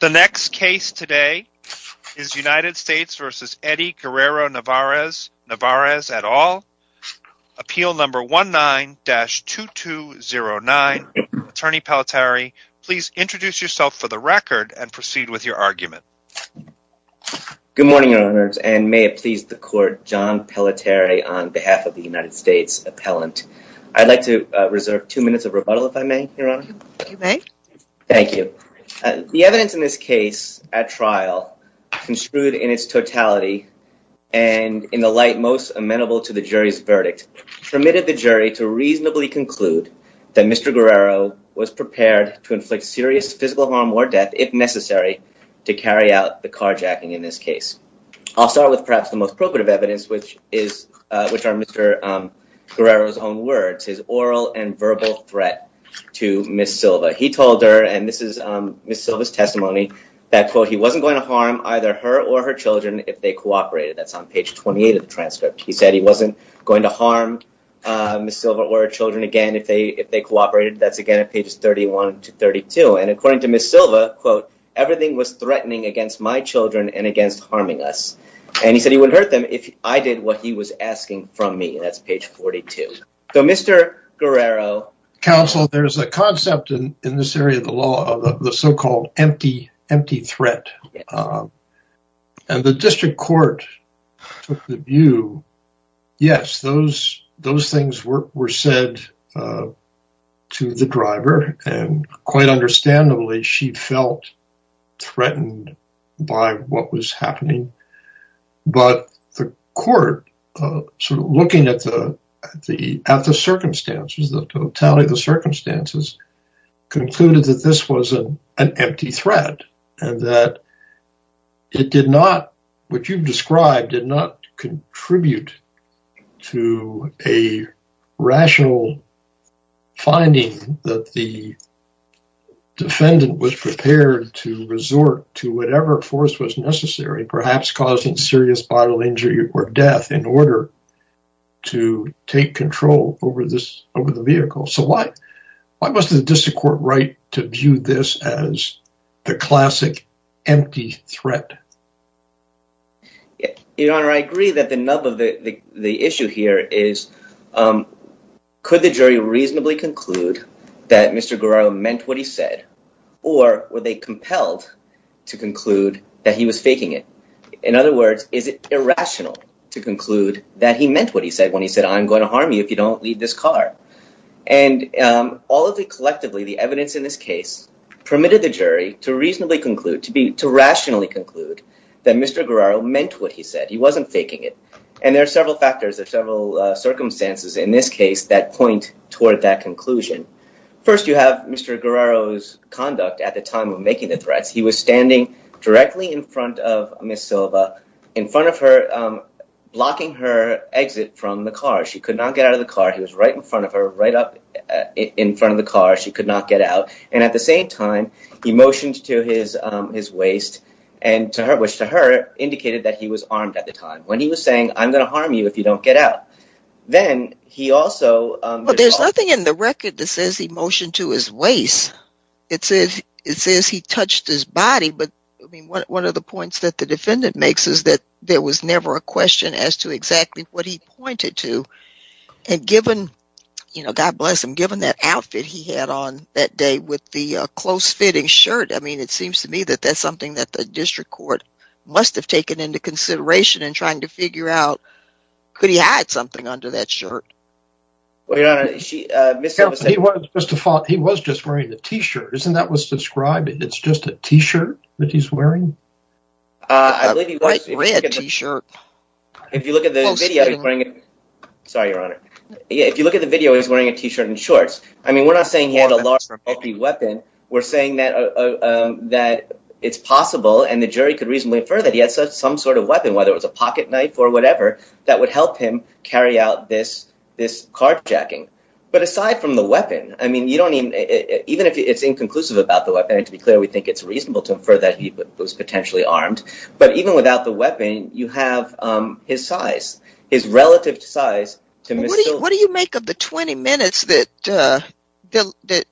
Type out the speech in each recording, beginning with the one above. The next case today is United States v. Eddie Guerrero-Narvaez at all, appeal number 19-2209. Attorney Pelleteri, please introduce yourself for the record and proceed with your argument. Good morning, Your Honors, and may it please the Court, John Pelleteri on behalf of the United States Appellant. I'd like to reserve two minutes of rebuttal, if I may, Your Honor. Thank you. The evidence in this case at trial, construed in its totality and in the light most amenable to the jury's verdict, permitted the jury to reasonably conclude that Mr. Guerrero was prepared to inflict serious physical harm or death, if necessary, to carry out the carjacking in this case. I'll start with perhaps the most probative evidence, which are Mr. Guerrero's own words, his oral and verbal threat to Ms. Silva. He told her, and this is Ms. Silva's testimony, that, quote, he wasn't going to harm either her or her children if they cooperated. That's on page 28 of the transcript. He said he wasn't going to harm Ms. Silva or her children again if they cooperated. That's again at pages 31 to 32. And according to Ms. Silva, quote, everything was threatening against my children and against harming us. And he said he would hurt them if I did what he was asking from me. That's page 42. So, Mr. Guerrero. Counsel, there's a concept in this area of the law of the so-called empty threat. And the district court took the view, yes, those things were said to the driver. And quite understandably, she felt threatened by what was happening. But the court, sort of looking at the circumstances, the totality of the circumstances, concluded that this was an empty threat and that it did not, what you've described, did not contribute to a rational finding that the defendant was prepared to resort to whatever force was necessary, perhaps causing serious vital injury or death, in order to take control over the vehicle. So, why was the district court right to view this as the classic empty threat? Your Honor, I agree that the nub of the issue here is, um, could the jury reasonably conclude that Mr. Guerrero meant what he said, or were they compelled to conclude that he was faking it? In other words, is it irrational to conclude that he meant what he said when he said, I'm going to harm you if you don't leave this car. And, um, all of the collectively, the evidence in this case permitted the jury to reasonably conclude, to be, to rationally conclude that Mr. Guerrero meant what he said. He wasn't faking it. And there are several factors, there are several, uh, circumstances in this case that point toward that conclusion. First, you have Mr. Guerrero's conduct at the time of making the threats. He was standing directly in front of Ms. Silva, in front of her, um, blocking her exit from the car. She could not get out of the car. He was right in front of her, right up in front of the car. She could not get out. And at the same time, he motioned to his, um, his waist and to her, to her, indicated that he was armed at the time. When he was saying, I'm going to harm you if you don't get out, then he also, um... Well, there's nothing in the record that says he motioned to his waist. It says, it says he touched his body. But I mean, one of the points that the defendant makes is that there was never a question as to exactly what he pointed to. And given, you know, God bless him, given that outfit he had on that day with the, uh, close fitting shirt. I mean, it seems to me that that's something that the district court must have taken into consideration in trying to figure out, could he hide something under that shirt? Well, Your Honor, she, uh, Ms. Silva said... He was just wearing a t-shirt. Isn't that what's described? It's just a t-shirt that he's wearing? Uh, I believe he was wearing a t-shirt. If you look at the video, he's wearing... Sorry, Your Honor. If you look at the video, he's wearing a t-shirt and shorts. I mean, we're not saying he had a large, bulky weapon. We're saying that, uh, um, that it's possible and the jury could reasonably infer that he had some sort of weapon, whether it was a pocket knife or whatever, that would help him carry out this, this carjacking. But aside from the weapon, I mean, you don't even, even if it's inconclusive about the weapon, and to be clear, we think it's reasonable to infer that he was potentially armed, but even without the weapon, you have, um, his his relative size to Ms. Silva. What do you make of the 20 minutes that, uh,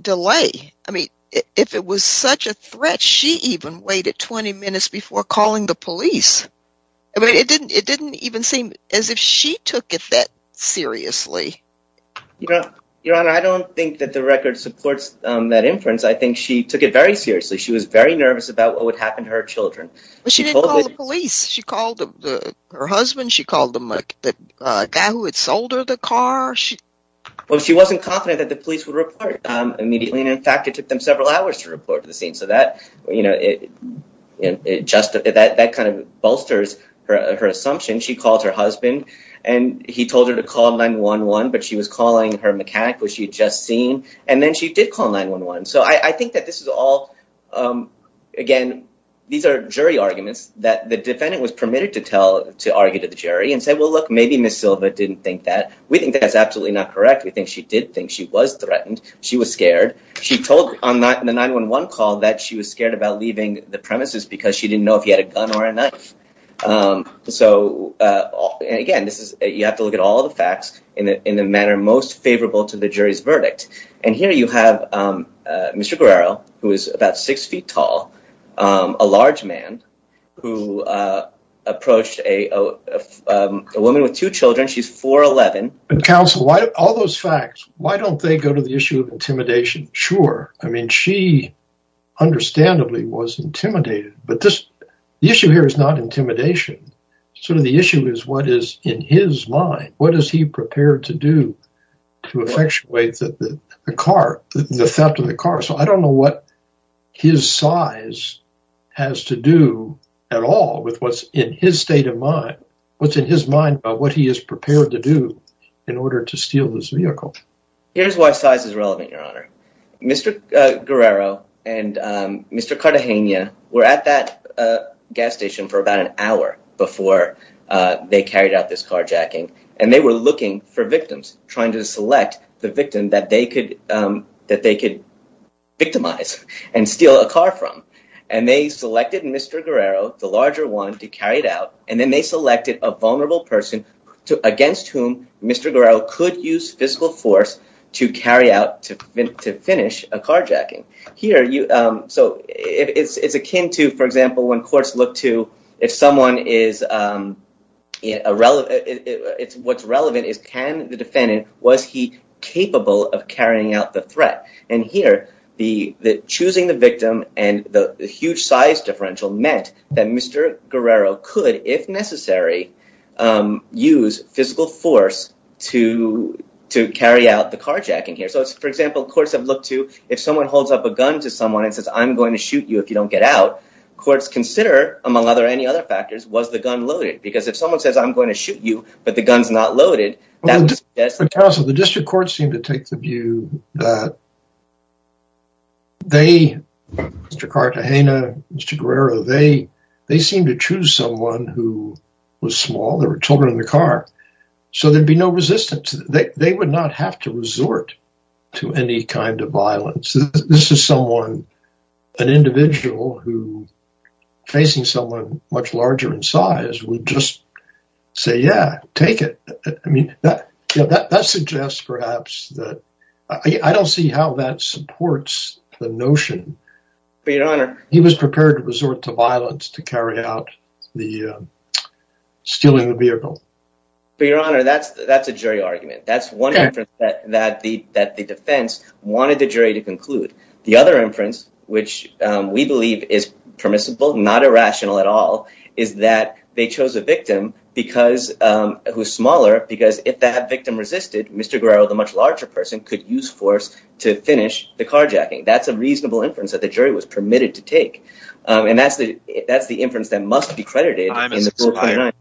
delay? I mean, if it was such a threat, she even waited 20 minutes before calling the police. I mean, it didn't, it didn't even seem as if she took it that seriously. Your Honor, I don't think that the record supports, um, that inference. I think she took it very seriously. She was very nervous about what would happen to her children. But she didn't call the police. She called her husband. She called the guy who had sold her the car. Well, she wasn't confident that the police would report immediately. And in fact, it took them several hours to report to the scene. So that, you know, it, it just, that, that kind of bolsters her, her assumption. She called her husband and he told her to call 911, but she was calling her mechanic, which she had just seen. And then she did call 911. So I think that this is all, um, again, these are jury arguments that the defendant was permitted to tell, to argue to the jury and say, well, look, maybe Ms. Silva didn't think that. We think that's absolutely not correct. We think she did think she was threatened. She was scared. She told on the 911 call that she was scared about leaving the premises because she didn't know if he had a gun or a knife. Um, so, uh, and again, this is, you have to look at all the facts in the, in the manner most favorable to the jury's verdict. And here you have, um, uh, Mr. Guerrero, who is about six feet tall, um, a large man who, uh, approached a, a, um, a woman with two children. She's 4'11". But counsel, why all those facts, why don't they go to the issue of intimidation? Sure. I mean, she understandably was intimidated, but this issue here is not intimidation. Sort of the issue is what is in his mind. What is he prepared to do to effectuate the car, the theft of the car? So I don't know what his size has to do at all with what's in his state of mind, what's in his mind about what he is prepared to do in order to steal this vehicle. Here's why size is relevant, your honor. Mr. Guerrero and, um, Mr. Cartagena were at that, uh, gas station for about an hour before, uh, they carried out this carjacking and they were looking for victims, trying to select the victim that they could, um, that they could victimize and steal a car from. And they selected Mr. Guerrero, the larger one, to carry it out. And then they selected a vulnerable person to, against whom Mr. Guerrero could use physical force to carry out, to finish a carjacking. Here you, um, so it's, it's akin to, for example, when courts look to if someone is, um, irrelevant, it's what's relevant is can the defendant, was he capable of carrying out the threat? And here the, the choosing the victim and the huge size differential meant that Mr. Guerrero could, if necessary, um, use physical force to, to carry out the carjacking here. So it's, for example, courts have looked to if someone holds up a gun to someone and says, I'm going to shoot you if you don't get out. Courts consider among other, any other factors, was the gun loaded? Because if someone says, I'm going to shoot you, but the gun's not loaded, that was just- The district courts seem to take the view that they, Mr. Cartagena, Mr. Guerrero, they, they seem to choose someone who was small. There were children in the car, so there'd be no resistance. They would not have to resort to any kind of an individual who facing someone much larger in size would just say, yeah, take it. I mean, that suggests perhaps that I don't see how that supports the notion. But your honor- He was prepared to resort to violence to carry out the, um, stealing the vehicle. But your honor, that's, that's a jury argument. That's one that the, that the defense wanted the jury to conclude. The other inference, which, um, we believe is permissible, not irrational at all, is that they chose a victim because, um, who's smaller because if that victim resisted, Mr. Guerrero, the much larger person could use force to finish the carjacking. That's a reasonable inference that the jury was permitted to take. Um, and that's the, that's the inference that must be credited in the rule 29,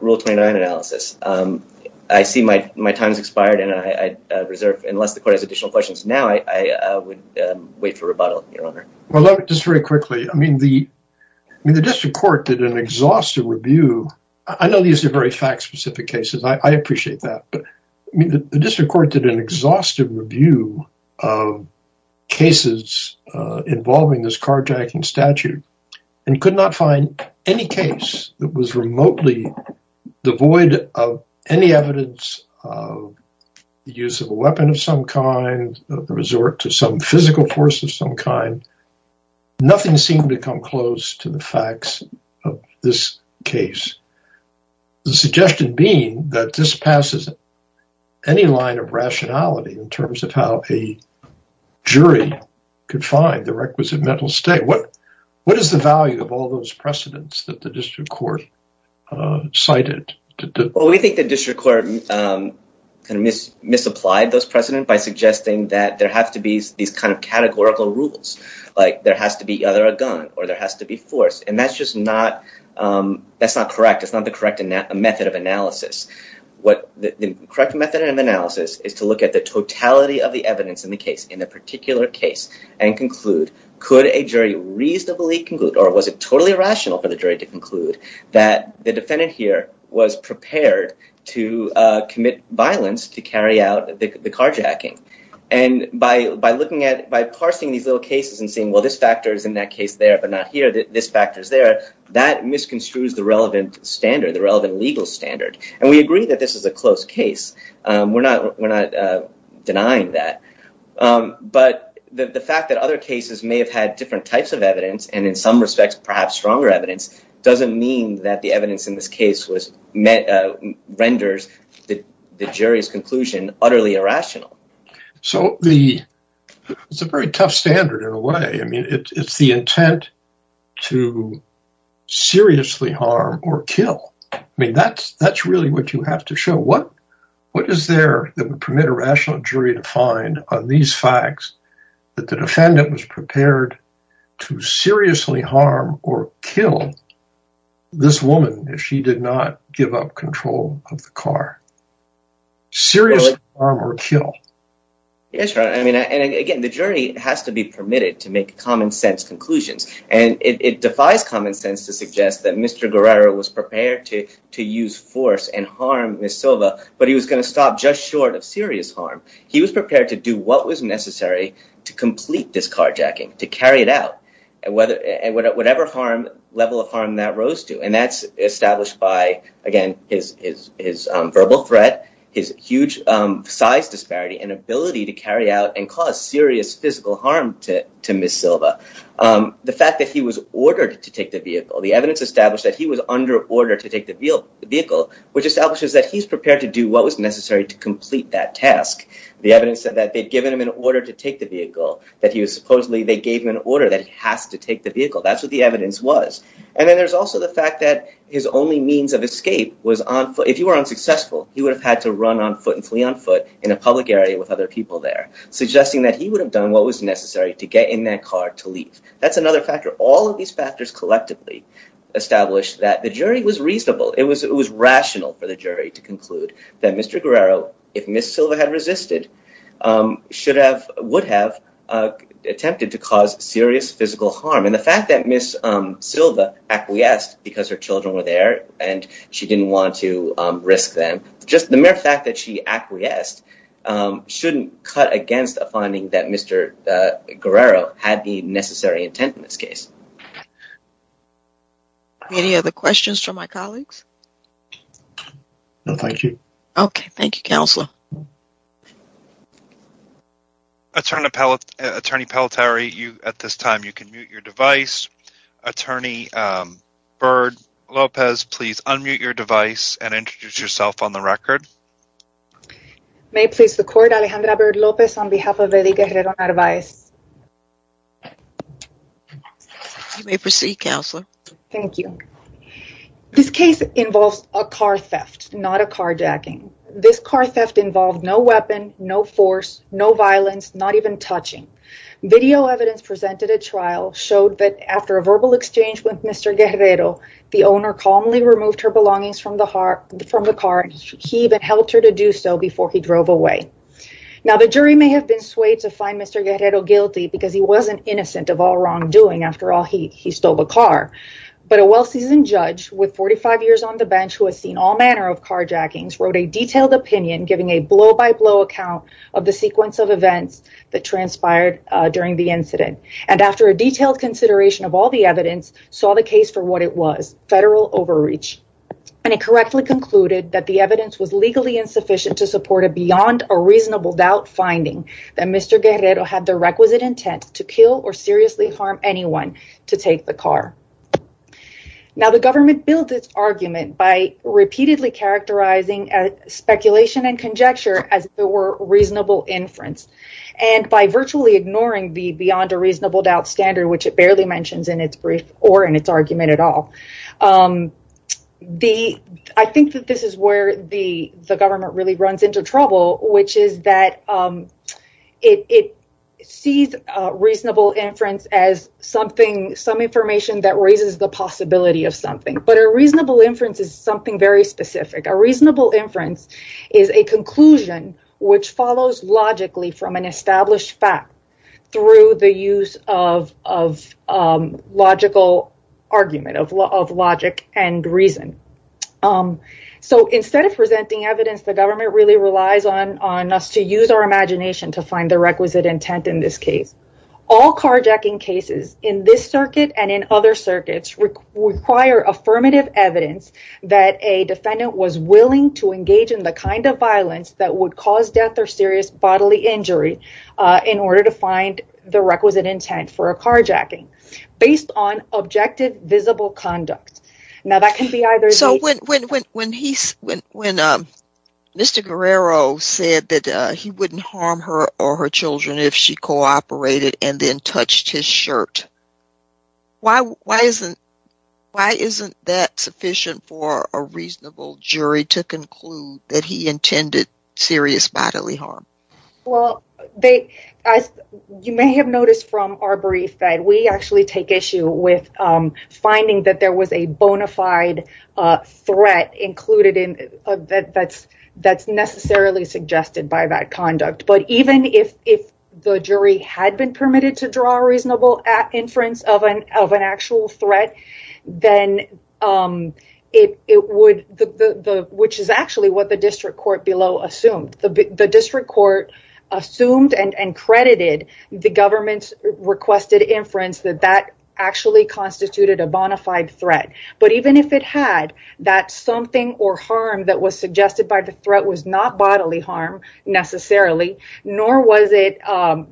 rule 29 analysis. Um, I see my, my time's expired and I, uh, reserve, unless the court has additional questions now, I, I, uh, would, um, wait for rebuttal, your honor. Well, just very quickly. I mean, the, I mean, the district court did an exhaustive review. I know these are very fact specific cases. I appreciate that, but I mean, the district court did an exhaustive review of cases, uh, involving this carjacking statute and could not find any case that was remotely devoid of any evidence of the use of a weapon of some kind of the resort to some physical force of some kind. Nothing seemed to come close to the facts of this case. The suggestion being that this passes any line of rationality in terms of how a mental state, what, what is the value of all those precedents that the district court, uh, cited? Well, we think the district court, um, kind of mis, misapplied those precedent by suggesting that there have to be these kind of categorical rules, like there has to be either a gun or there has to be force. And that's just not, um, that's not correct. It's not the correct method of analysis. What the correct method of analysis is to look at the totality of the evidence in the particular case and conclude, could a jury reasonably conclude, or was it totally irrational for the jury to conclude that the defendant here was prepared to, uh, commit violence to carry out the carjacking? And by, by looking at, by parsing these little cases and seeing, well, this factor is in that case there, but not here, this factor is there, that misconstrues the relevant standard, the relevant legal standard. And we agree that this is a close case. Um, we're not, we're not, uh, denying that. Um, but the fact that other cases may have had different types of evidence and in some respects, perhaps stronger evidence doesn't mean that the evidence in this case was met, uh, renders the jury's conclusion utterly irrational. So the, it's a very tough standard in a way. I mean, it's the intent to seriously harm or kill. I mean, that's, that's really what you have to show. What, what is there that would permit a rational jury to find on these facts that the defendant was prepared to seriously harm or kill this woman if she did not give up control of the car? Seriously harm or kill. Yes. Right. I mean, and again, the jury has to be permitted to make common sense conclusions and it defies common sense to suggest that Mr. Guerrero was prepared to, to use force and harm Ms. Silva, but he was going to stop just short of serious harm. He was prepared to do what was necessary to complete this carjacking, to carry it out and whether, whatever harm, level of harm that rose to. And that's established by, again, his, his, his, um, verbal threat, his huge, um, size disparity and ability to carry out and cause serious physical harm to, to Ms. Silva. Um, the fact that he was ordered to take the vehicle, the evidence established that he was under order to take the vehicle, which establishes that he's prepared to do what was necessary to complete that task. The evidence said that they'd given him an order to take the vehicle, that he was supposedly, they gave him an order that he has to take the vehicle. That's what the evidence was. And then there's also the fact that his only means of escape was on foot. If you were unsuccessful, he would have had to run on foot and flee on foot in a public area with other people there, suggesting that he would have done what was necessary to get in that car to leave. That's another factor. All of these factors collectively established that the jury was reasonable. It was, it was rational for the jury to conclude that Mr. Guerrero, if Ms. Silva had resisted, um, should have, would have, uh, attempted to cause serious physical harm. And the fact that Ms. Silva acquiesced because her children were there and she didn't want to, um, risk them. Just the mere fact that she acquiesced, um, shouldn't cut against a finding that Mr. Guerrero had the necessary intent in this case. Any other questions from my colleagues? No, thank you. Okay. Thank you, Counselor. Attorney Pelletieri, you, at this time, you can mute your device. Attorney, um, Byrd-Lopez, please unmute your device and introduce yourself on the record. May it please the court, Alejandra Byrd-Lopez on behalf of Eddie Guerrero Narvaez. You may proceed, Counselor. Thank you. This case involves a car theft, not a carjacking. This car theft involved no weapon, no force, no violence, not even touching. Video evidence presented at trial showed that after a verbal exchange with Mr. Guerrero, the owner calmly removed her belongings from the heart, from the car. He even helped her to do so before he drove away. Now, the jury may have been swayed to find Mr. Guerrero guilty because he wasn't innocent of all wrongdoing. After all, he, he stole the car, but a well-seasoned judge with 45 years on the bench who has seen all manner of carjackings wrote a detailed opinion giving a blow-by-blow account of the sequence of events that transpired during the incident, and after a detailed consideration of all the evidence, saw the case for what it was, federal overreach, and it correctly concluded that the evidence was legally insufficient to support a beyond a reasonable doubt finding that Mr. Guerrero had the requisite intent to kill or seriously harm anyone to take the car. Now, the government builds its argument by repeatedly characterizing speculation and conjecture as if it were reasonable inference, and by virtually ignoring the beyond a reasonable doubt standard, which it barely mentions in its brief or in its argument at all. The, I think that this is where the, the government really runs into trouble, which is that, um, it, it sees a reasonable inference as something, some information that raises the possibility of something, but a reasonable inference is something very specific. A reasonable inference is a conclusion which follows logically from an established fact through the use of, of, um, logical argument of law of logic and reason. Um, so instead of presenting evidence, the government really relies on, on us to use our imagination to find the requisite intent in this case. All carjacking cases in this circuit and in other circuits require affirmative evidence that a defendant was willing to engage in the kind of violence that would cause death or serious bodily injury, uh, in order to find the requisite intent for a carjacking based on objective, visible conduct. Now that can be either... So when, when, when, when he, when, when, um, Mr. Guerrero said that, uh, he wouldn't harm her or her children if she cooperated and then touched his shirt, why, why isn't, why isn't that sufficient for a reasonable jury to conclude that he intended serious bodily harm? Well, they, as you may have noticed from our brief that we actually take issue with, um, finding that there was a bona fide, uh, threat included in, uh, that, that's, that's necessarily suggested by that conduct. But even if, if the jury had been permitted to draw a reasonable inference of an, of an actual threat, then, um, it, it would, the, the, the, which is actually what the district court below assumed. The district court assumed and, and credited the government's requested inference that that actually constituted a bona fide threat. But even if it had that something or harm that was suggested by the threat was not bodily harm necessarily, nor was it, um,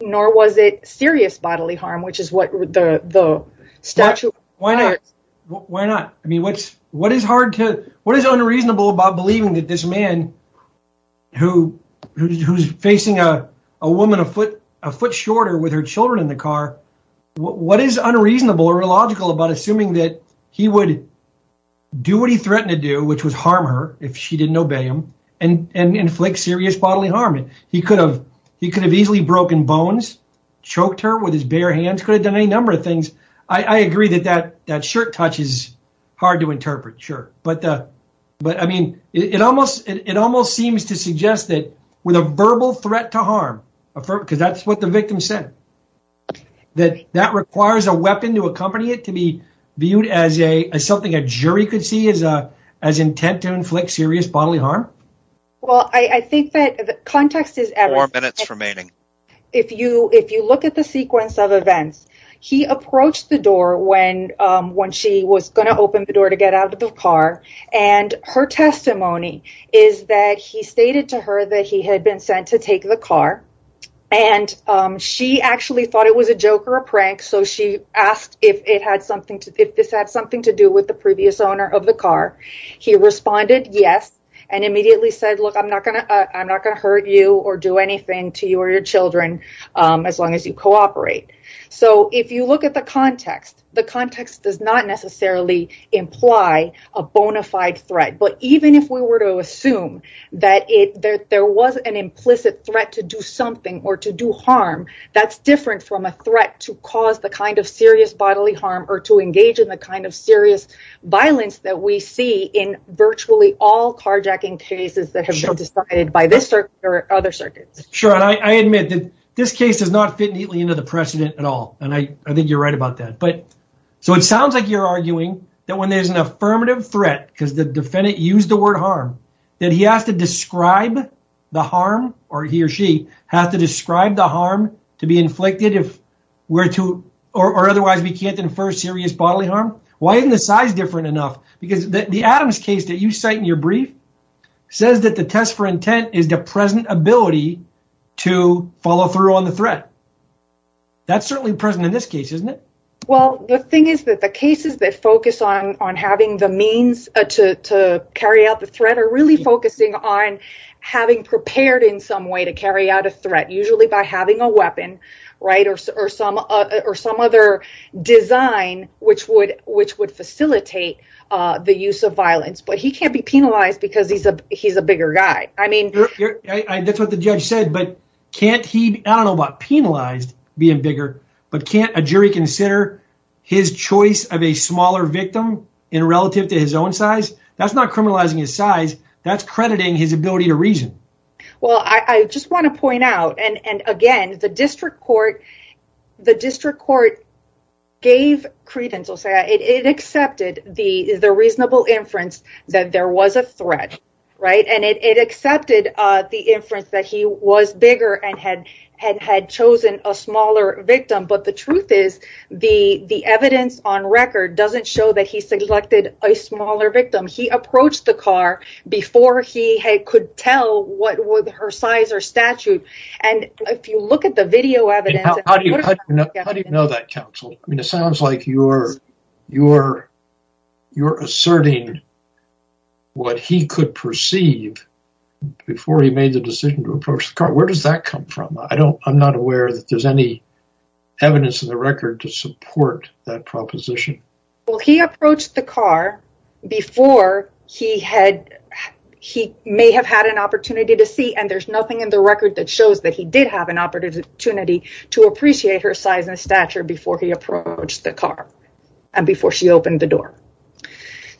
nor was it serious bodily harm, which is what the, the statute requires. Why not? I mean, what's, what is hard to, what is unreasonable about believing that this man who, who's facing a woman, a foot, a foot shorter with her children in the car, what is unreasonable or illogical about assuming that he would do what he threatened to do, which was harm her if she didn't obey him and, and inflict serious bodily harm. He could have, he could have easily broken bones, choked her with his bare hands, could have done any number of things. I agree that that, that shirt touch is hard to but I mean, it, it almost, it almost seems to suggest that with a verbal threat to harm, a firm, cause that's what the victim said that that requires a weapon to accompany it, to be viewed as a, as something a jury could see as a, as intent to inflict serious bodily harm. Well, I think that the context is, if you, if you look at the sequence of events, he approached the door when, um, when she was going to open the door to get out of the car and her testimony is that he stated to her that he had been sent to take the car. And, um, she actually thought it was a joke or a prank. So she asked if it had something to, if this had something to do with the previous owner of the car, he responded, yes. And immediately said, look, I'm not gonna, uh, I'm not gonna hurt you or do anything to you or your children. Um, as long as you cooperate. So if you look at the context, the context does not necessarily imply a bona fide threat, but even if we were to assume that it, that there was an implicit threat to do something or to do harm, that's different from a threat to cause the kind of serious bodily harm or to engage in the kind of serious violence that we see in virtually all carjacking cases that have been decided by this circuit or other circuits. Sure. And I admit that this case does not fit neatly into the precedent at all. And I, I think you're right about that. But so it sounds like you're arguing that when there's an affirmative threat, because the defendant used the word harm, that he has to describe the harm or he or she has to describe the harm to be inflicted if we're to, or otherwise we can't infer serious bodily harm. Why isn't the size different enough? Because the Adams case that you cite in your brief says that the test for intent is the present ability to follow through on the threat. That's certainly present in this case, isn't it? Well, the thing is that the cases that focus on, on having the means to, to carry out the threat are really focusing on having prepared in some way to carry out a threat, usually by having a weapon, right. Or, or some, or some other design, which would, which would facilitate the use of violence, but he can't be penalized because he's a, he's a bigger guy. I mean, that's what the judge said, but can't he, I don't know about penalized being bigger, but can't a jury consider his choice of a smaller victim in relative to his own size? That's not criminalizing his size. That's crediting his ability to reason. Well, I, I just want to point out, and, and again, the district court, the district court gave credence, it accepted the, the reasonable inference that there was a threat, right? And it, it accepted the inference that he was bigger and had, had, had chosen a smaller victim. But the truth is the, the evidence on record doesn't show that he selected a smaller victim. He approached the car before he could tell what was her size or statute. And if you look at the video evidence... How do you know that counsel? I mean, it sounds like you're, you're, you're asserting what he could perceive before he made the decision to approach the car. Where does that come from? I don't, I'm not aware that there's any evidence in the record to support that proposition. Well, he approached the car before he had, he may have had an opportunity to see, and there's nothing in the record that shows that he did have an opportunity to appreciate her size and stature before he approached the car and before she opened the door.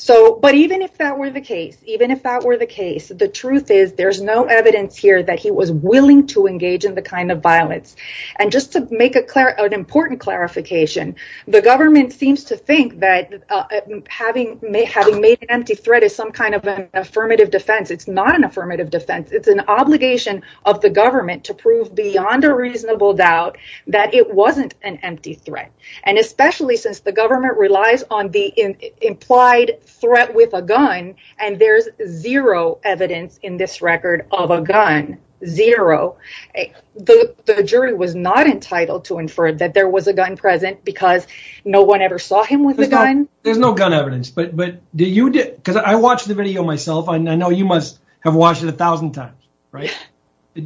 So, but even if that were the case, even if that were the case, the truth is there's no evidence here that he was willing to engage in the kind of violence. And just to make a clear, an important clarification, the government seems to think that having made, having made an empty threat is some kind of an affirmative defense. It's not an affirmative defense. It's an obligation of the doubt that it wasn't an empty threat. And especially since the government relies on the implied threat with a gun, and there's zero evidence in this record of a gun, zero. The jury was not entitled to infer that there was a gun present because no one ever saw him with the gun. There's no gun evidence, but, but do you, because I watched the video myself, and I know you must have watched it a thousand times, right?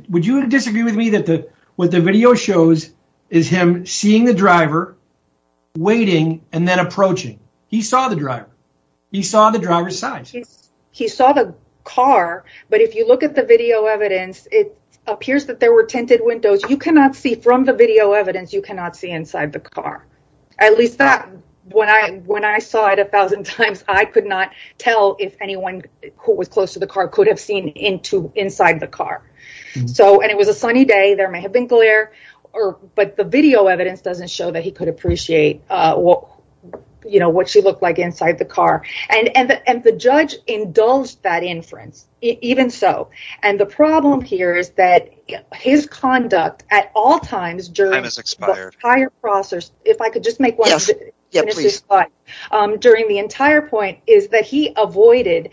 Would you disagree with me that the, what the video shows is him seeing the driver, waiting, and then approaching. He saw the driver. He saw the driver's size. He saw the car, but if you look at the video evidence, it appears that there were tinted windows. You cannot see from the video evidence, you cannot see inside the car. At least when I, when I saw it a thousand times, I could not tell if anyone who was close to the car could have seen into, inside the car. So, and it was a sunny day. There may have been glare or, but the video evidence doesn't show that he could appreciate what, you know, what she looked like inside the car. And, and the, and the judge indulged that inference, even so. And the problem here is that his conduct, at all times, during this entire process, if I could just make one, during the entire point, is that he avoided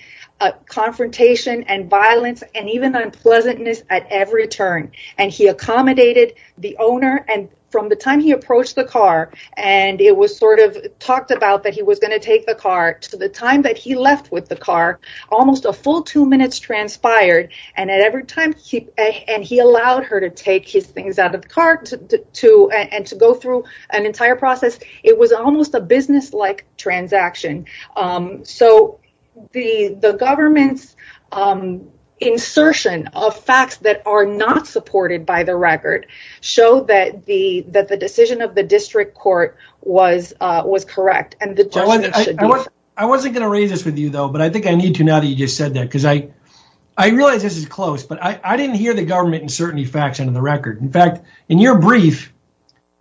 confrontation and violence and even unpleasantness at every turn. And he accommodated the owner, and from the time he approached the car, and it was sort of talked about that he was going to take the car, to the time that he left with the car, almost a full two minutes transpired. And at every time he, and he allowed her to take his things out of the car to, to, and to go through an entire process. It was almost a business-like transaction. So the, the government's insertion of facts that are not supported by the record show that the, that the decision of the district court was, was correct. I wasn't going to raise this with you though, but I think I need to now that you just said that, because I, I realize this is close, but I, I didn't hear the government insert any facts into the record. In fact, in your brief,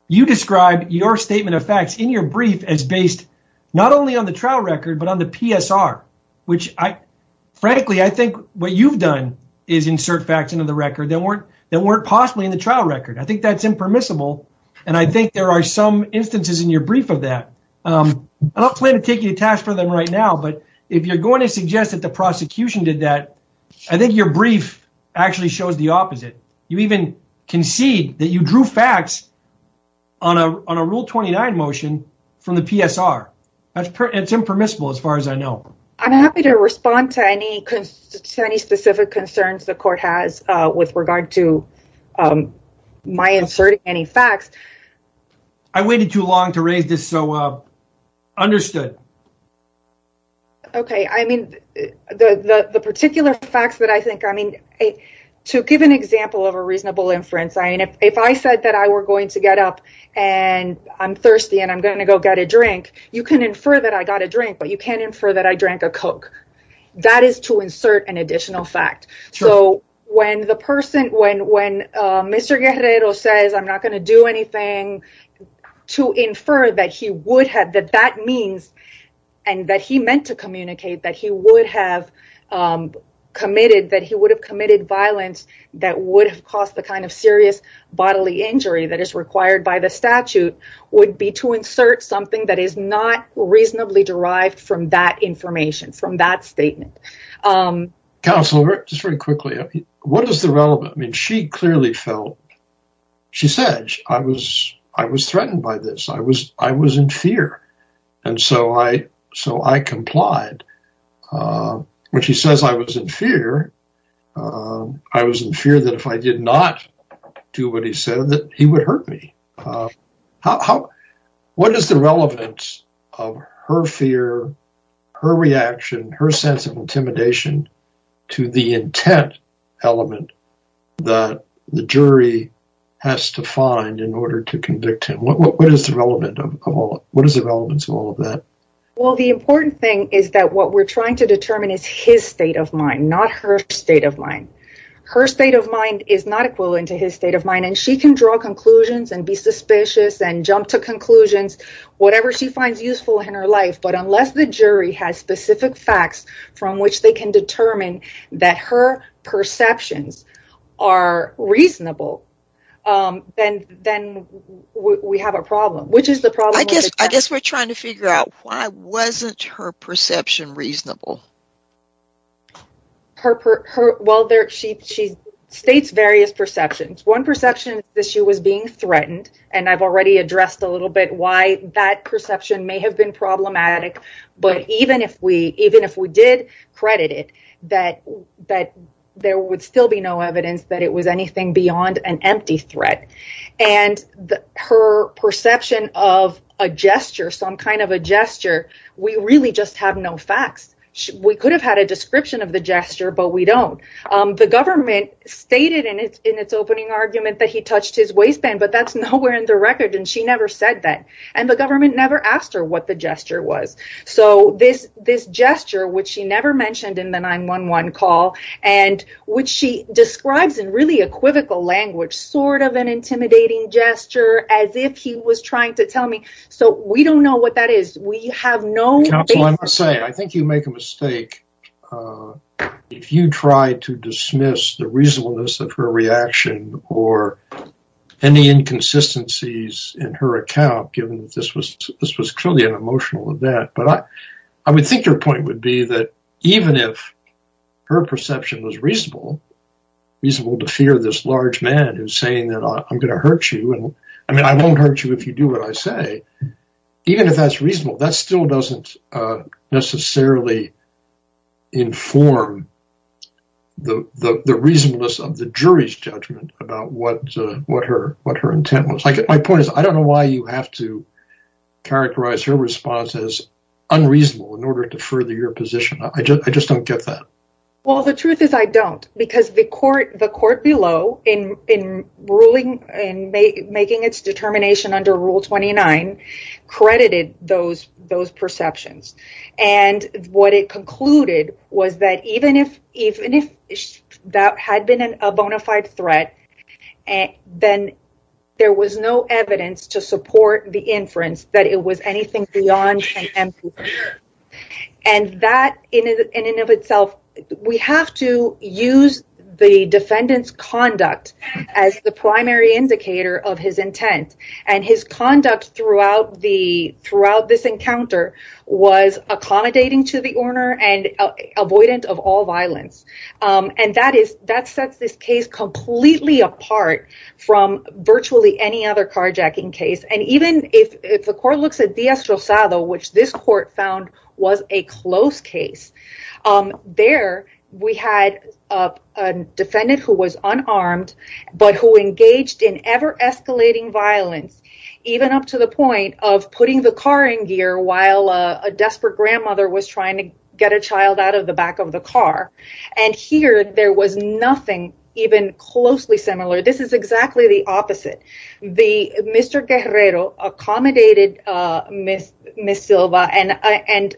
you described your statement of facts in your brief as based not only on the trial record, but on the PSR, which I, frankly, I think what you've done is insert facts into the record that weren't, that weren't possibly in the trial record. I think that's impermissible. And I think there are some instances in your brief of that. I don't plan to take you to task for them right now, but if you're going to suggest that the prosecution did that, I think your brief actually shows the opposite. You even concede that you drew facts on a, on a rule 29 motion from the PSR. That's impermissible as far as I know. I'm happy to respond to any specific concerns the court has with regard to my inserting any facts. I waited too long to raise this. So understood. Okay. I mean, the, the, the particular facts that I think, I mean, to give an example of a reasonable inference, I mean, if I said that I were going to get up and I'm thirsty and I'm going to go get a drink, you can infer that I got a drink, but you can't infer that I drank a Coke. That is to insert an additional fact. So when the person, when, when Mr. Guerrero says, I'm not going to do anything to infer that he would have, that that means, and that he meant to communicate that he would have committed, that he would have committed violence that would have caused the kind of serious bodily injury that is required by the statute would be to insert something that is not reasonably derived from that information from that statement. Counselor, just very quickly, what is the relevant? I mean, she clearly felt, she said, I was, I was threatened by this. I was, I was in fear. And so I, so I complied when she says I was in fear. I was in fear that if I did not do what he said, that he would hurt me. How, what is the relevance of her fear, her reaction, her sense of intimidation to the intent element that the jury has to find in order to convict him? What is the relevant of all, what is the relevance of all of that? Well, the important thing is that what we're trying to determine is his state of mind, not her state of mind. Her state of mind is not equivalent to his state of mind. And she can draw conclusions and be suspicious and jump to conclusions, whatever she finds useful in her life. But unless the jury has specific facts from which they can determine that her perceptions are reasonable, then, then we have a problem, which is the problem. I guess, I guess we're trying to figure out why wasn't her perception reasonable? Her, her, her, well, there, she, she states various perceptions. One perception that she was being threatened, and I've already addressed a little bit why that perception may have been problematic. But even if we, even if we did credit it, that, that there would still be no evidence that it was anything beyond an empty threat. And her perception of a gesture, some of a gesture, we really just have no facts. We could have had a description of the gesture, but we don't. The government stated in its, in its opening argument that he touched his waistband, but that's nowhere in the record. And she never said that. And the government never asked her what the gesture was. So this, this gesture, which she never mentioned in the 911 call, and which she describes in really equivocal language, sort of an intimidating gesture, as if he was trying to tell me. So we don't know what that is. We have no... Counsel, I must say, I think you make a mistake. If you try to dismiss the reasonableness of her reaction or any inconsistencies in her account, given that this was, this was clearly an emotional event. But I, I would think your point would be that even if her perception was reasonable, reasonable to fear this large man who's saying that I'm going to hurt you. And I mean, I won't hurt you if you do what I say. Even if that's reasonable, that still doesn't necessarily inform the reasonableness of the jury's judgment about what, what her, what her intent was. Like, my point is, I don't know why you have to characterize her response as unreasonable in order to further your position. I just, I just don't get that. Well, the truth is I don't, because the court, the court below in, in ruling and making its determination under Rule 29 credited those, those perceptions. And what it concluded was that even if, even if that had been a bona fide threat, then there was no evidence to support the inference that it was anything beyond contempt. And that in and of itself, we have to use the defendant's conduct as the primary indicator of his intent and his conduct throughout the, throughout this encounter was accommodating to the owner and avoidant of all violence. And that is, that sets this case completely apart from virtually any other carjacking case. And even if, if the court looks at Dias Rosado, which this court found was a close case, there we had a defendant who was unarmed, but who engaged in ever escalating violence, even up to the point of putting the car in gear while a desperate grandmother was trying to get a child out of the back of the car. And here there was nothing even closely similar. This is exactly the opposite. The Mr. Guerrero accommodated Ms. Silva and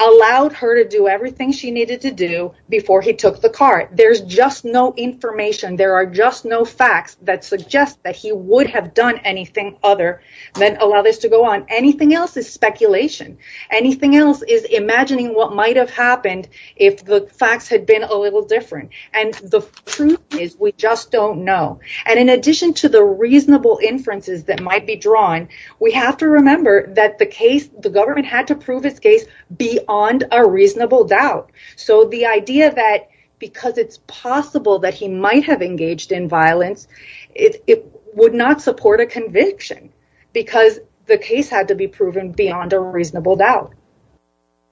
allowed her to do everything she needed to do before he took the car. There's just no information. There are just no facts that suggest that he would have done anything other than allow this to go on. Anything else is speculation. Anything else is imagining what might've happened if the facts had been a little different. And the truth is we just don't know. And in addition to the reasonable inferences that might be drawn, we have to remember that the case, the government had to prove his case beyond a reasonable doubt. So the idea that because it's possible that he might have engaged in violence, it would not support a conviction because the case had to be proven beyond a reasonable doubt.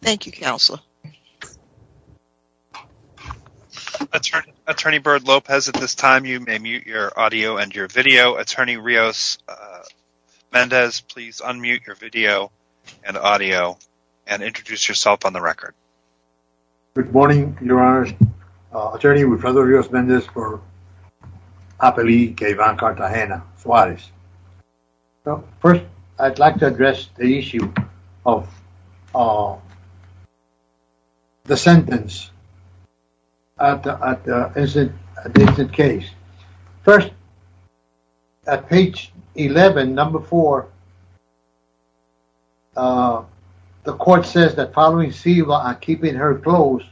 Thank you, Counselor. Attorney Bird Lopez, at this time, you may mute your audio and your video. Attorney Rios-Mendez, please unmute your video and audio and introduce yourself on the record. Good morning, Your Honor. Attorney Rios-Mendez for APLI-K-VAN Cartagena, Suarez. First, I'd like to address the issue of the sentence at the incident case. First, at page 11, number 4, the court says that following Siva and keeping her close,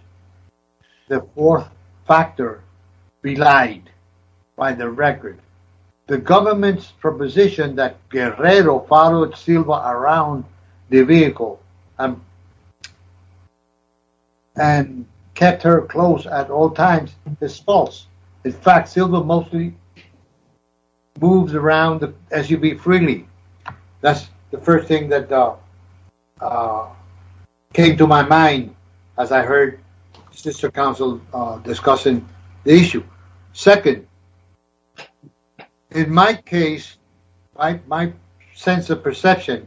the fourth factor relied by the record. The government's proposition that Guerrero followed Silva around the vehicle and kept her close at all times is false. In fact, Silva mostly moves around the SUV freely. That's the first thing that came to my mind as I heard Sister Counsel discussing the issue. Second, in my case, my sense of perception,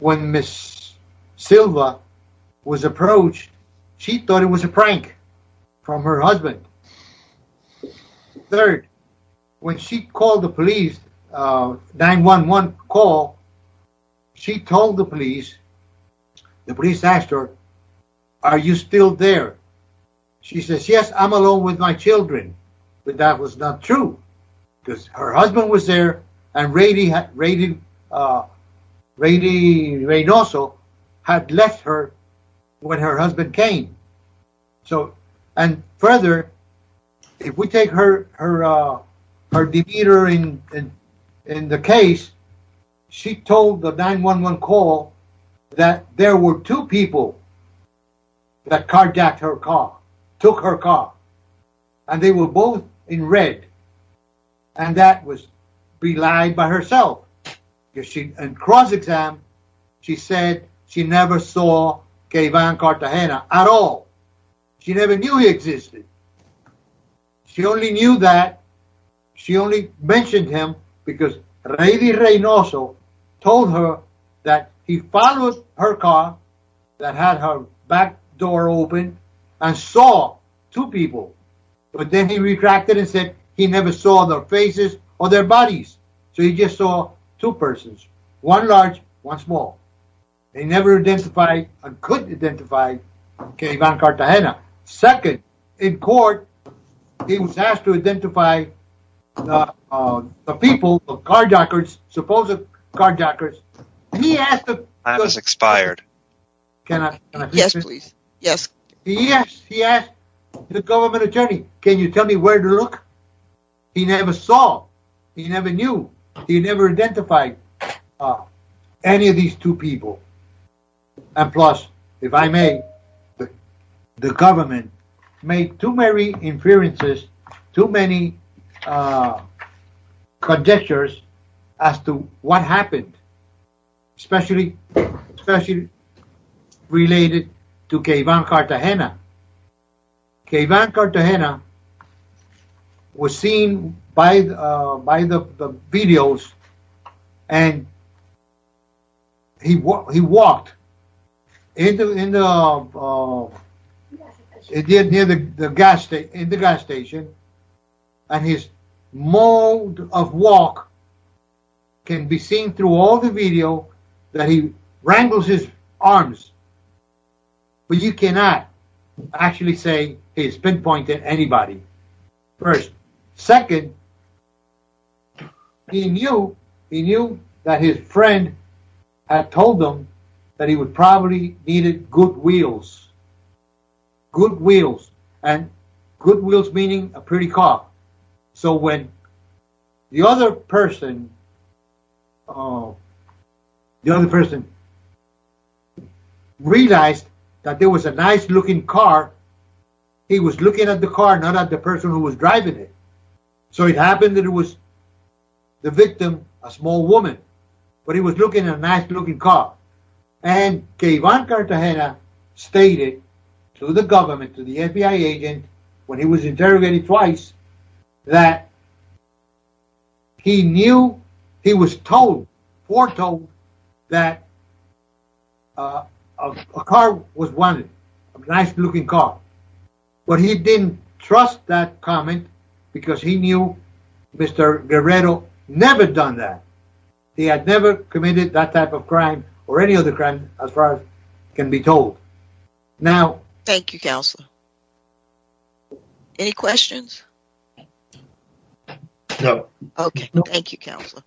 when Miss Silva was approached, she thought it was a prank from her husband. Third, when she called the police, 911 call, she told the police, the police asked her, are you still there? She says, yes, I'm alone with my children, but that was not true because her husband was there and Rady Reynoso had left her when her husband came. So, and further, if we take her demeanor in the case, she told the 911 call that there were two people that contacted her car, took her car, and they were both in red and that was belied by herself. In cross-exam, she said she never saw Keivan Cartagena at all. She never knew he existed. She only knew that, she only mentioned him because Rady Reynoso told her that he followed her car that had her back door open and saw two people, but then he retracted and said he never saw their faces or their bodies. So, he just saw two persons, one large, one small. They never identified and couldn't identify Keivan Cartagena. Second, in court, he was asked to identify the people, the car dockers, supposed car dockers. He asked the- Time has expired. Can I- Yes, please. Yes. He asked the government attorney, can you tell me where to look? He never saw, he never knew, he never identified any of these two people. And plus, if I may, the government made too many inferences, too many conjectures as to what happened, especially related to Keivan Cartagena. Keivan Cartagena was seen by the videos and he walked in the gas station and his mode of walk can be seen through all the video that he wrangles his arms, but you cannot actually say he's pinpointed anybody, first. Second, he knew that his friend had told him that he would probably needed good wheels, good wheels, and good wheels meaning a pretty car. So, when the other person, the other person realized that there was a nice looking car, he was looking at the car, not at the person who was driving it. So, it happened that it was the victim, a small woman, but he was looking at a nice looking car. And Keivan to the FBI agent, when he was interrogated twice, that he knew he was told, foretold that a car was wanted, a nice looking car, but he didn't trust that comment because he knew Mr. Guerrero never done that. He had never committed that type of crime or any other crime can be told. Thank you, Counselor. Any questions? No. Okay. Thank you, Counselor.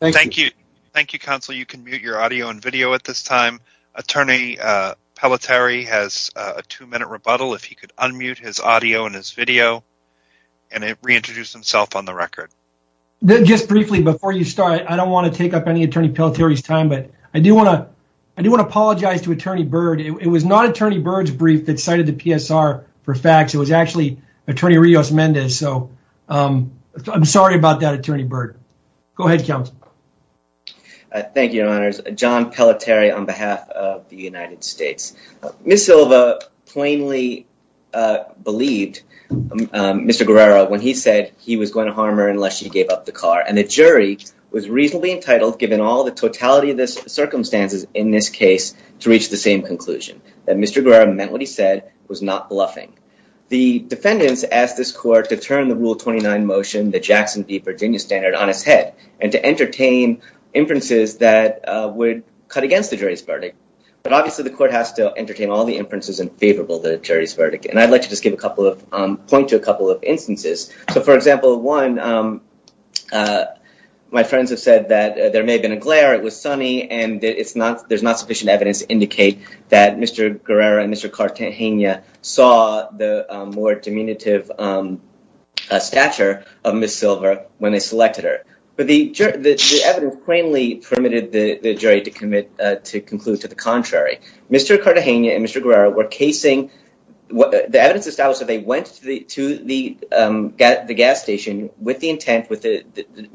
Thank you. Thank you, Counselor. You can mute your audio and video at this time. Attorney Pelletieri has a two-minute rebuttal. If he could unmute his audio and his video and reintroduce himself on the record. Just briefly before you start, I don't want to take up Attorney Pelletieri's time, but I do want to apologize to Attorney Byrd. It was not Attorney Byrd's brief that cited the PSR for facts. It was actually Attorney Rios-Mendez. So, I'm sorry about that, Attorney Byrd. Go ahead, Counselor. Thank you, Your Honors. John Pelletieri on behalf of the United States. Ms. Silva plainly believed Mr. Guerrero when he said he was going to harm her unless she gave up the car. And the jury was reasonably entitled, given all the totality of the circumstances in this case, to reach the same conclusion. That Mr. Guerrero meant what he said was not bluffing. The defendants asked this court to turn the Rule 29 motion, the Jackson v. Virginia Standard, on its head and to entertain inferences that would cut against the jury's verdict. But obviously, the court has to entertain all the inferences in favorable to the jury's verdict. And I'd like to just give a point to a couple of instances. So, for example, one, my friends have said that there may have been a glare, it was sunny, and there's not sufficient evidence to indicate that Mr. Guerrero and Mr. Cartagena saw the more diminutive stature of Ms. Silva when they selected her. But the evidence plainly permitted the jury to conclude to the contrary. Mr. Cartagena and Mr. Guerrero were casing, the evidence established that they went to the gas station with the intent,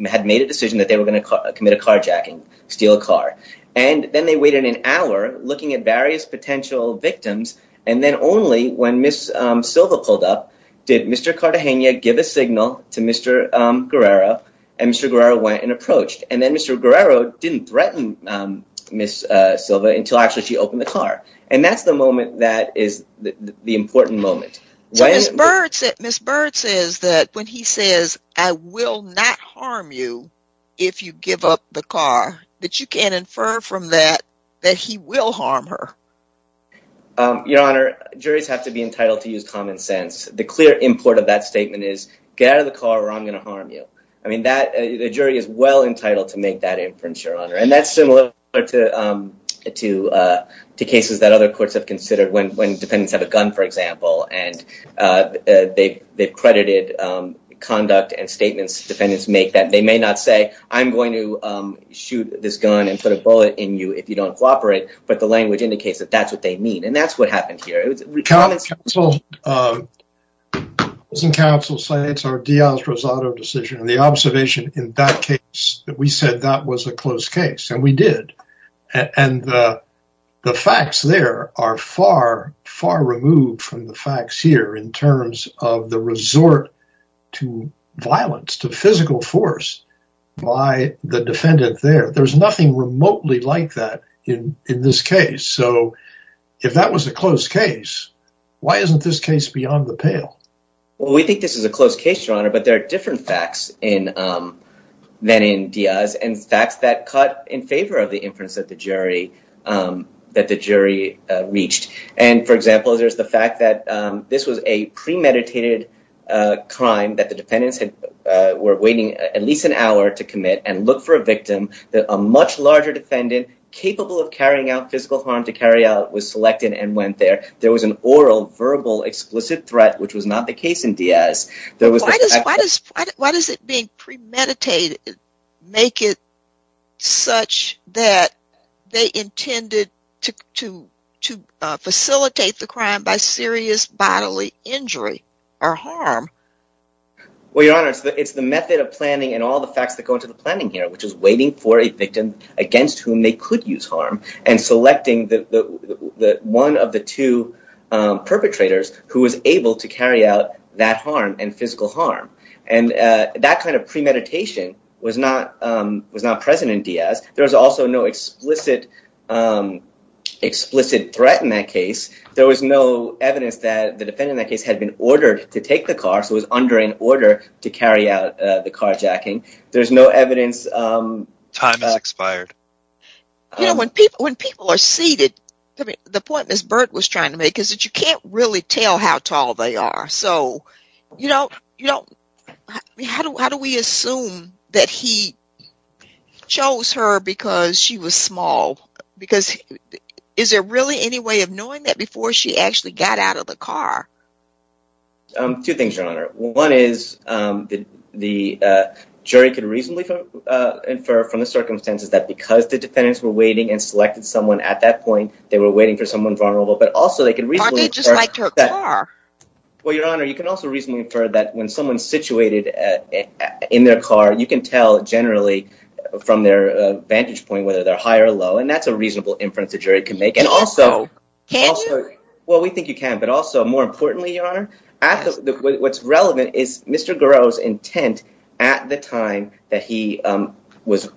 had made a decision that they were going to commit a carjacking, steal a car. And then they waited an hour looking at various potential victims. And then only when Ms. Silva pulled up, did Mr. Cartagena give a signal to Mr. Guerrero, and Mr. Guerrero went and approached. And then Mr. Guerrero didn't threaten Ms. Silva until actually she opened the car. And that's the is the important moment. Ms. Bird says that when he says, I will not harm you, if you give up the car, that you can infer from that, that he will harm her. Your Honor, juries have to be entitled to use common sense. The clear import of that statement is, get out of the car or I'm going to harm you. I mean, the jury is well entitled to make that decision. When defendants have a gun, for example, and they've credited conduct and statements defendants make that they may not say, I'm going to shoot this gun and put a bullet in you if you don't cooperate. But the language indicates that that's what they mean. And that's what happened here. Councils say it's our Diaz-Rosado decision and the observation in that we said that was a closed case and we did. And the facts there are far, far removed from the facts here in terms of the resort to violence, to physical force by the defendant there. There's nothing remotely like that in this case. So if that was a closed case, why isn't this case beyond the pale? Well, we think this is a closed case, Your Honor, but there are different facts than in Diaz and facts that cut in favor of the inference that the jury reached. And for example, there's the fact that this was a premeditated crime that the defendants were waiting at least an hour to commit and look for a victim that a much larger defendant, capable of carrying out physical harm to carry out, was selected and went there. There was an premeditated make it such that they intended to facilitate the crime by serious bodily injury or harm. Well, Your Honor, it's the method of planning and all the facts that go into the planning here, which is waiting for a victim against whom they could use harm and selecting the one of the two perpetrators who was able to carry out that harm and physical harm. And that kind of premeditation was not present in Diaz. There was also no explicit threat in that case. There was no evidence that the defendant in that case had been ordered to take the car, so it was under an order to carry out the carjacking. There's no evidence... You know, when people are seated, the point Ms. Burke was trying to make is that you can't really tell how tall they are. So, you know, how do we assume that he chose her because she was small? Because is there really any way of knowing that before she actually got out of the car? Two things, Your Honor. One is the jury could reasonably infer from the circumstances that because the defendants were waiting and selected someone at that point, they were waiting for someone vulnerable, but also they can reasonably... Aren't they just like to her car? Well, Your Honor, you can also reasonably infer that when someone's situated in their car, you can tell generally from their vantage point whether they're high or low, and that's a reasonable inference the jury can make. And also... Can you? Well, we think you can, but also more importantly, Your Honor, what's relevant is Mr. Garreau's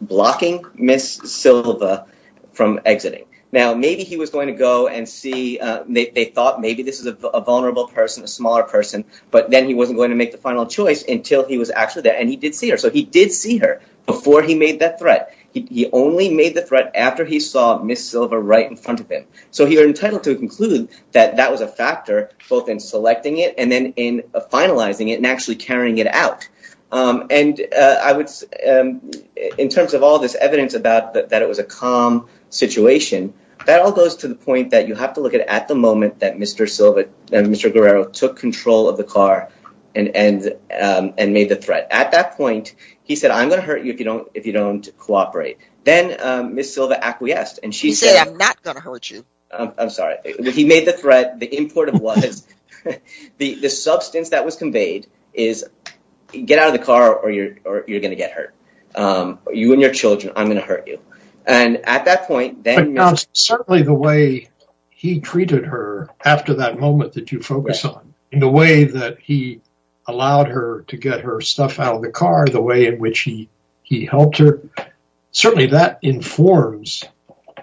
blocking Ms. Silva from exiting. Now, maybe he was going to go and see... They thought maybe this is a vulnerable person, a smaller person, but then he wasn't going to make the final choice until he was actually there, and he did see her. So he did see her before he made that threat. He only made the threat after he saw Ms. Silva right in front of him. So he was entitled to conclude that that was a factor both in selecting it and then in finalizing it and actually carrying it out. In terms of all this evidence that it was a calm situation, that all goes to the point that you have to look at the moment that Mr. Garreau took control of the car and made the threat. At that point, he said, I'm going to hurt you if you don't cooperate. Then Ms. Silva acquiesced and she said... He said, I'm not going to hurt you. I'm sorry. He made the threat. The importance was the substance that was conveyed is get out of the car or you're going to get hurt. You and your children, I'm going to hurt you. And at that point, then- But now, certainly the way he treated her after that moment that you focus on, and the way that he allowed her to get her stuff out of the car, the way in which he helped her, certainly that informs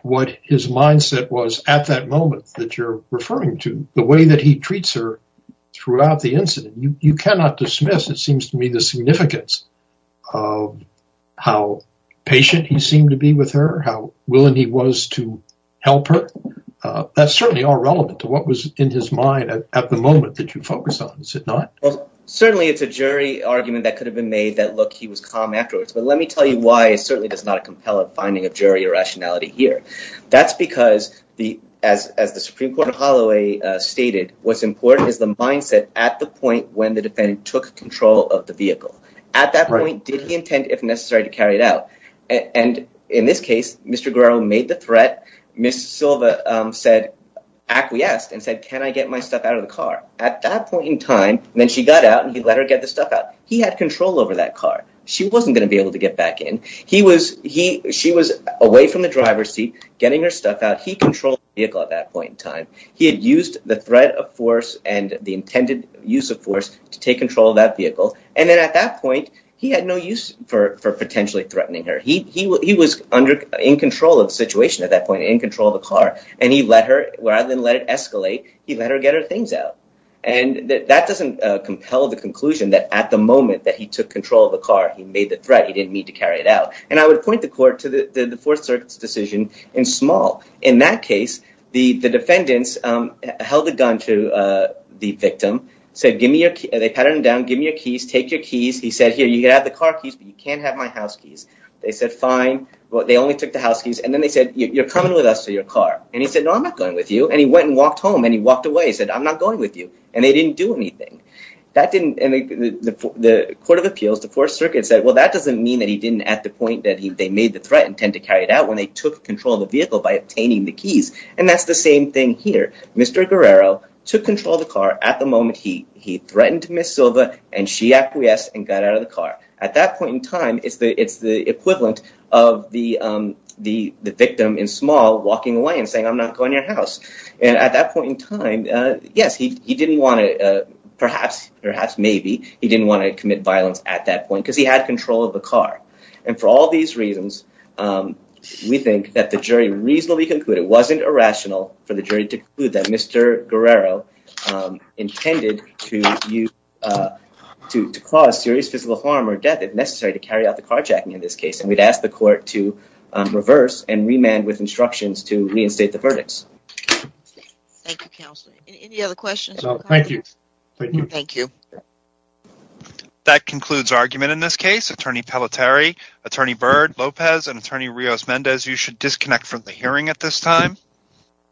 what his mindset was at that moment that you're referring to. The way that he treats her throughout the incident, you cannot dismiss, it seems to me, the significance of how patient he seemed to be with her, how willing he was to help her. That's certainly all relevant to what was in his mind at the moment that you focus on, is it not? Well, certainly it's a jury argument that could have been made that, look, he was calm afterwards. But let me tell you why it certainly does not compel a finding of jury irrationality here. That's because, as the Supreme Court of Holloway stated, what's important is the mindset at the point when the defendant took control of the vehicle. At that point, did he intend, if necessary, to carry it out? And in this case, Mr. Guerrero made the threat. Ms. Silva acquiesced and said, can I get my stuff out of the car? At that point in time, then she got out and he let her get the stuff out. He had control over that car. She wasn't going to be able to get back in. She was away from the driver's seat, getting her stuff out. He controlled the vehicle at that point in time. He had used the threat of force and the intended use of force to take control of that vehicle. And then at that point, he had no use for potentially threatening her. He was in control of the situation at that point, in control of the car. And he let her, rather than let it escalate, he let her get her things out. And that doesn't compel the conclusion that at the moment that he took control of the car, he made the threat. He didn't mean to carry it out. And I would point the court to the Fourth Circuit's decision in small. In that case, the defendants held the gun to the victim, said, give me your, they pattered him down, give me your keys, take your keys. He said, here, you can have the car keys, but you can't have my house keys. They said, fine. Well, they only took the house keys. And then they said, you're coming with us to your car. And he said, no, I'm not going with you. And he went and walked home and he walked away. He said, I'm not going with you. And they didn't do anything. And the Court of Appeals, the Fourth Circuit said, well, that doesn't mean that he didn't at the point that they made the threat and tend to carry it out when they took control of the vehicle by obtaining the keys. And that's the same thing here. Mr. Guerrero took control of the car at the moment he threatened Ms. Silva and she acquiesced and got out of the car. At that point in time, it's the equivalent of the victim in small walking away and saying, I'm not going to your house. And at that point in time, yes, he didn't want to perhaps, perhaps, maybe he didn't want to commit violence at that point because he had control of the car. And for all these reasons, we think that the jury reasonably concluded it wasn't irrational for the jury to conclude that Mr. Guerrero intended to use to cause serious physical harm or death if necessary to carry out the carjacking in this case. And we'd ask the court to reverse and remand with instructions to state the verdicts. Thank you, Counselor. Any other questions? No, thank you. Thank you. That concludes argument in this case. Attorney Palateri, Attorney Byrd, Lopez and Attorney Rios-Mendez, you should disconnect from the hearing at this time.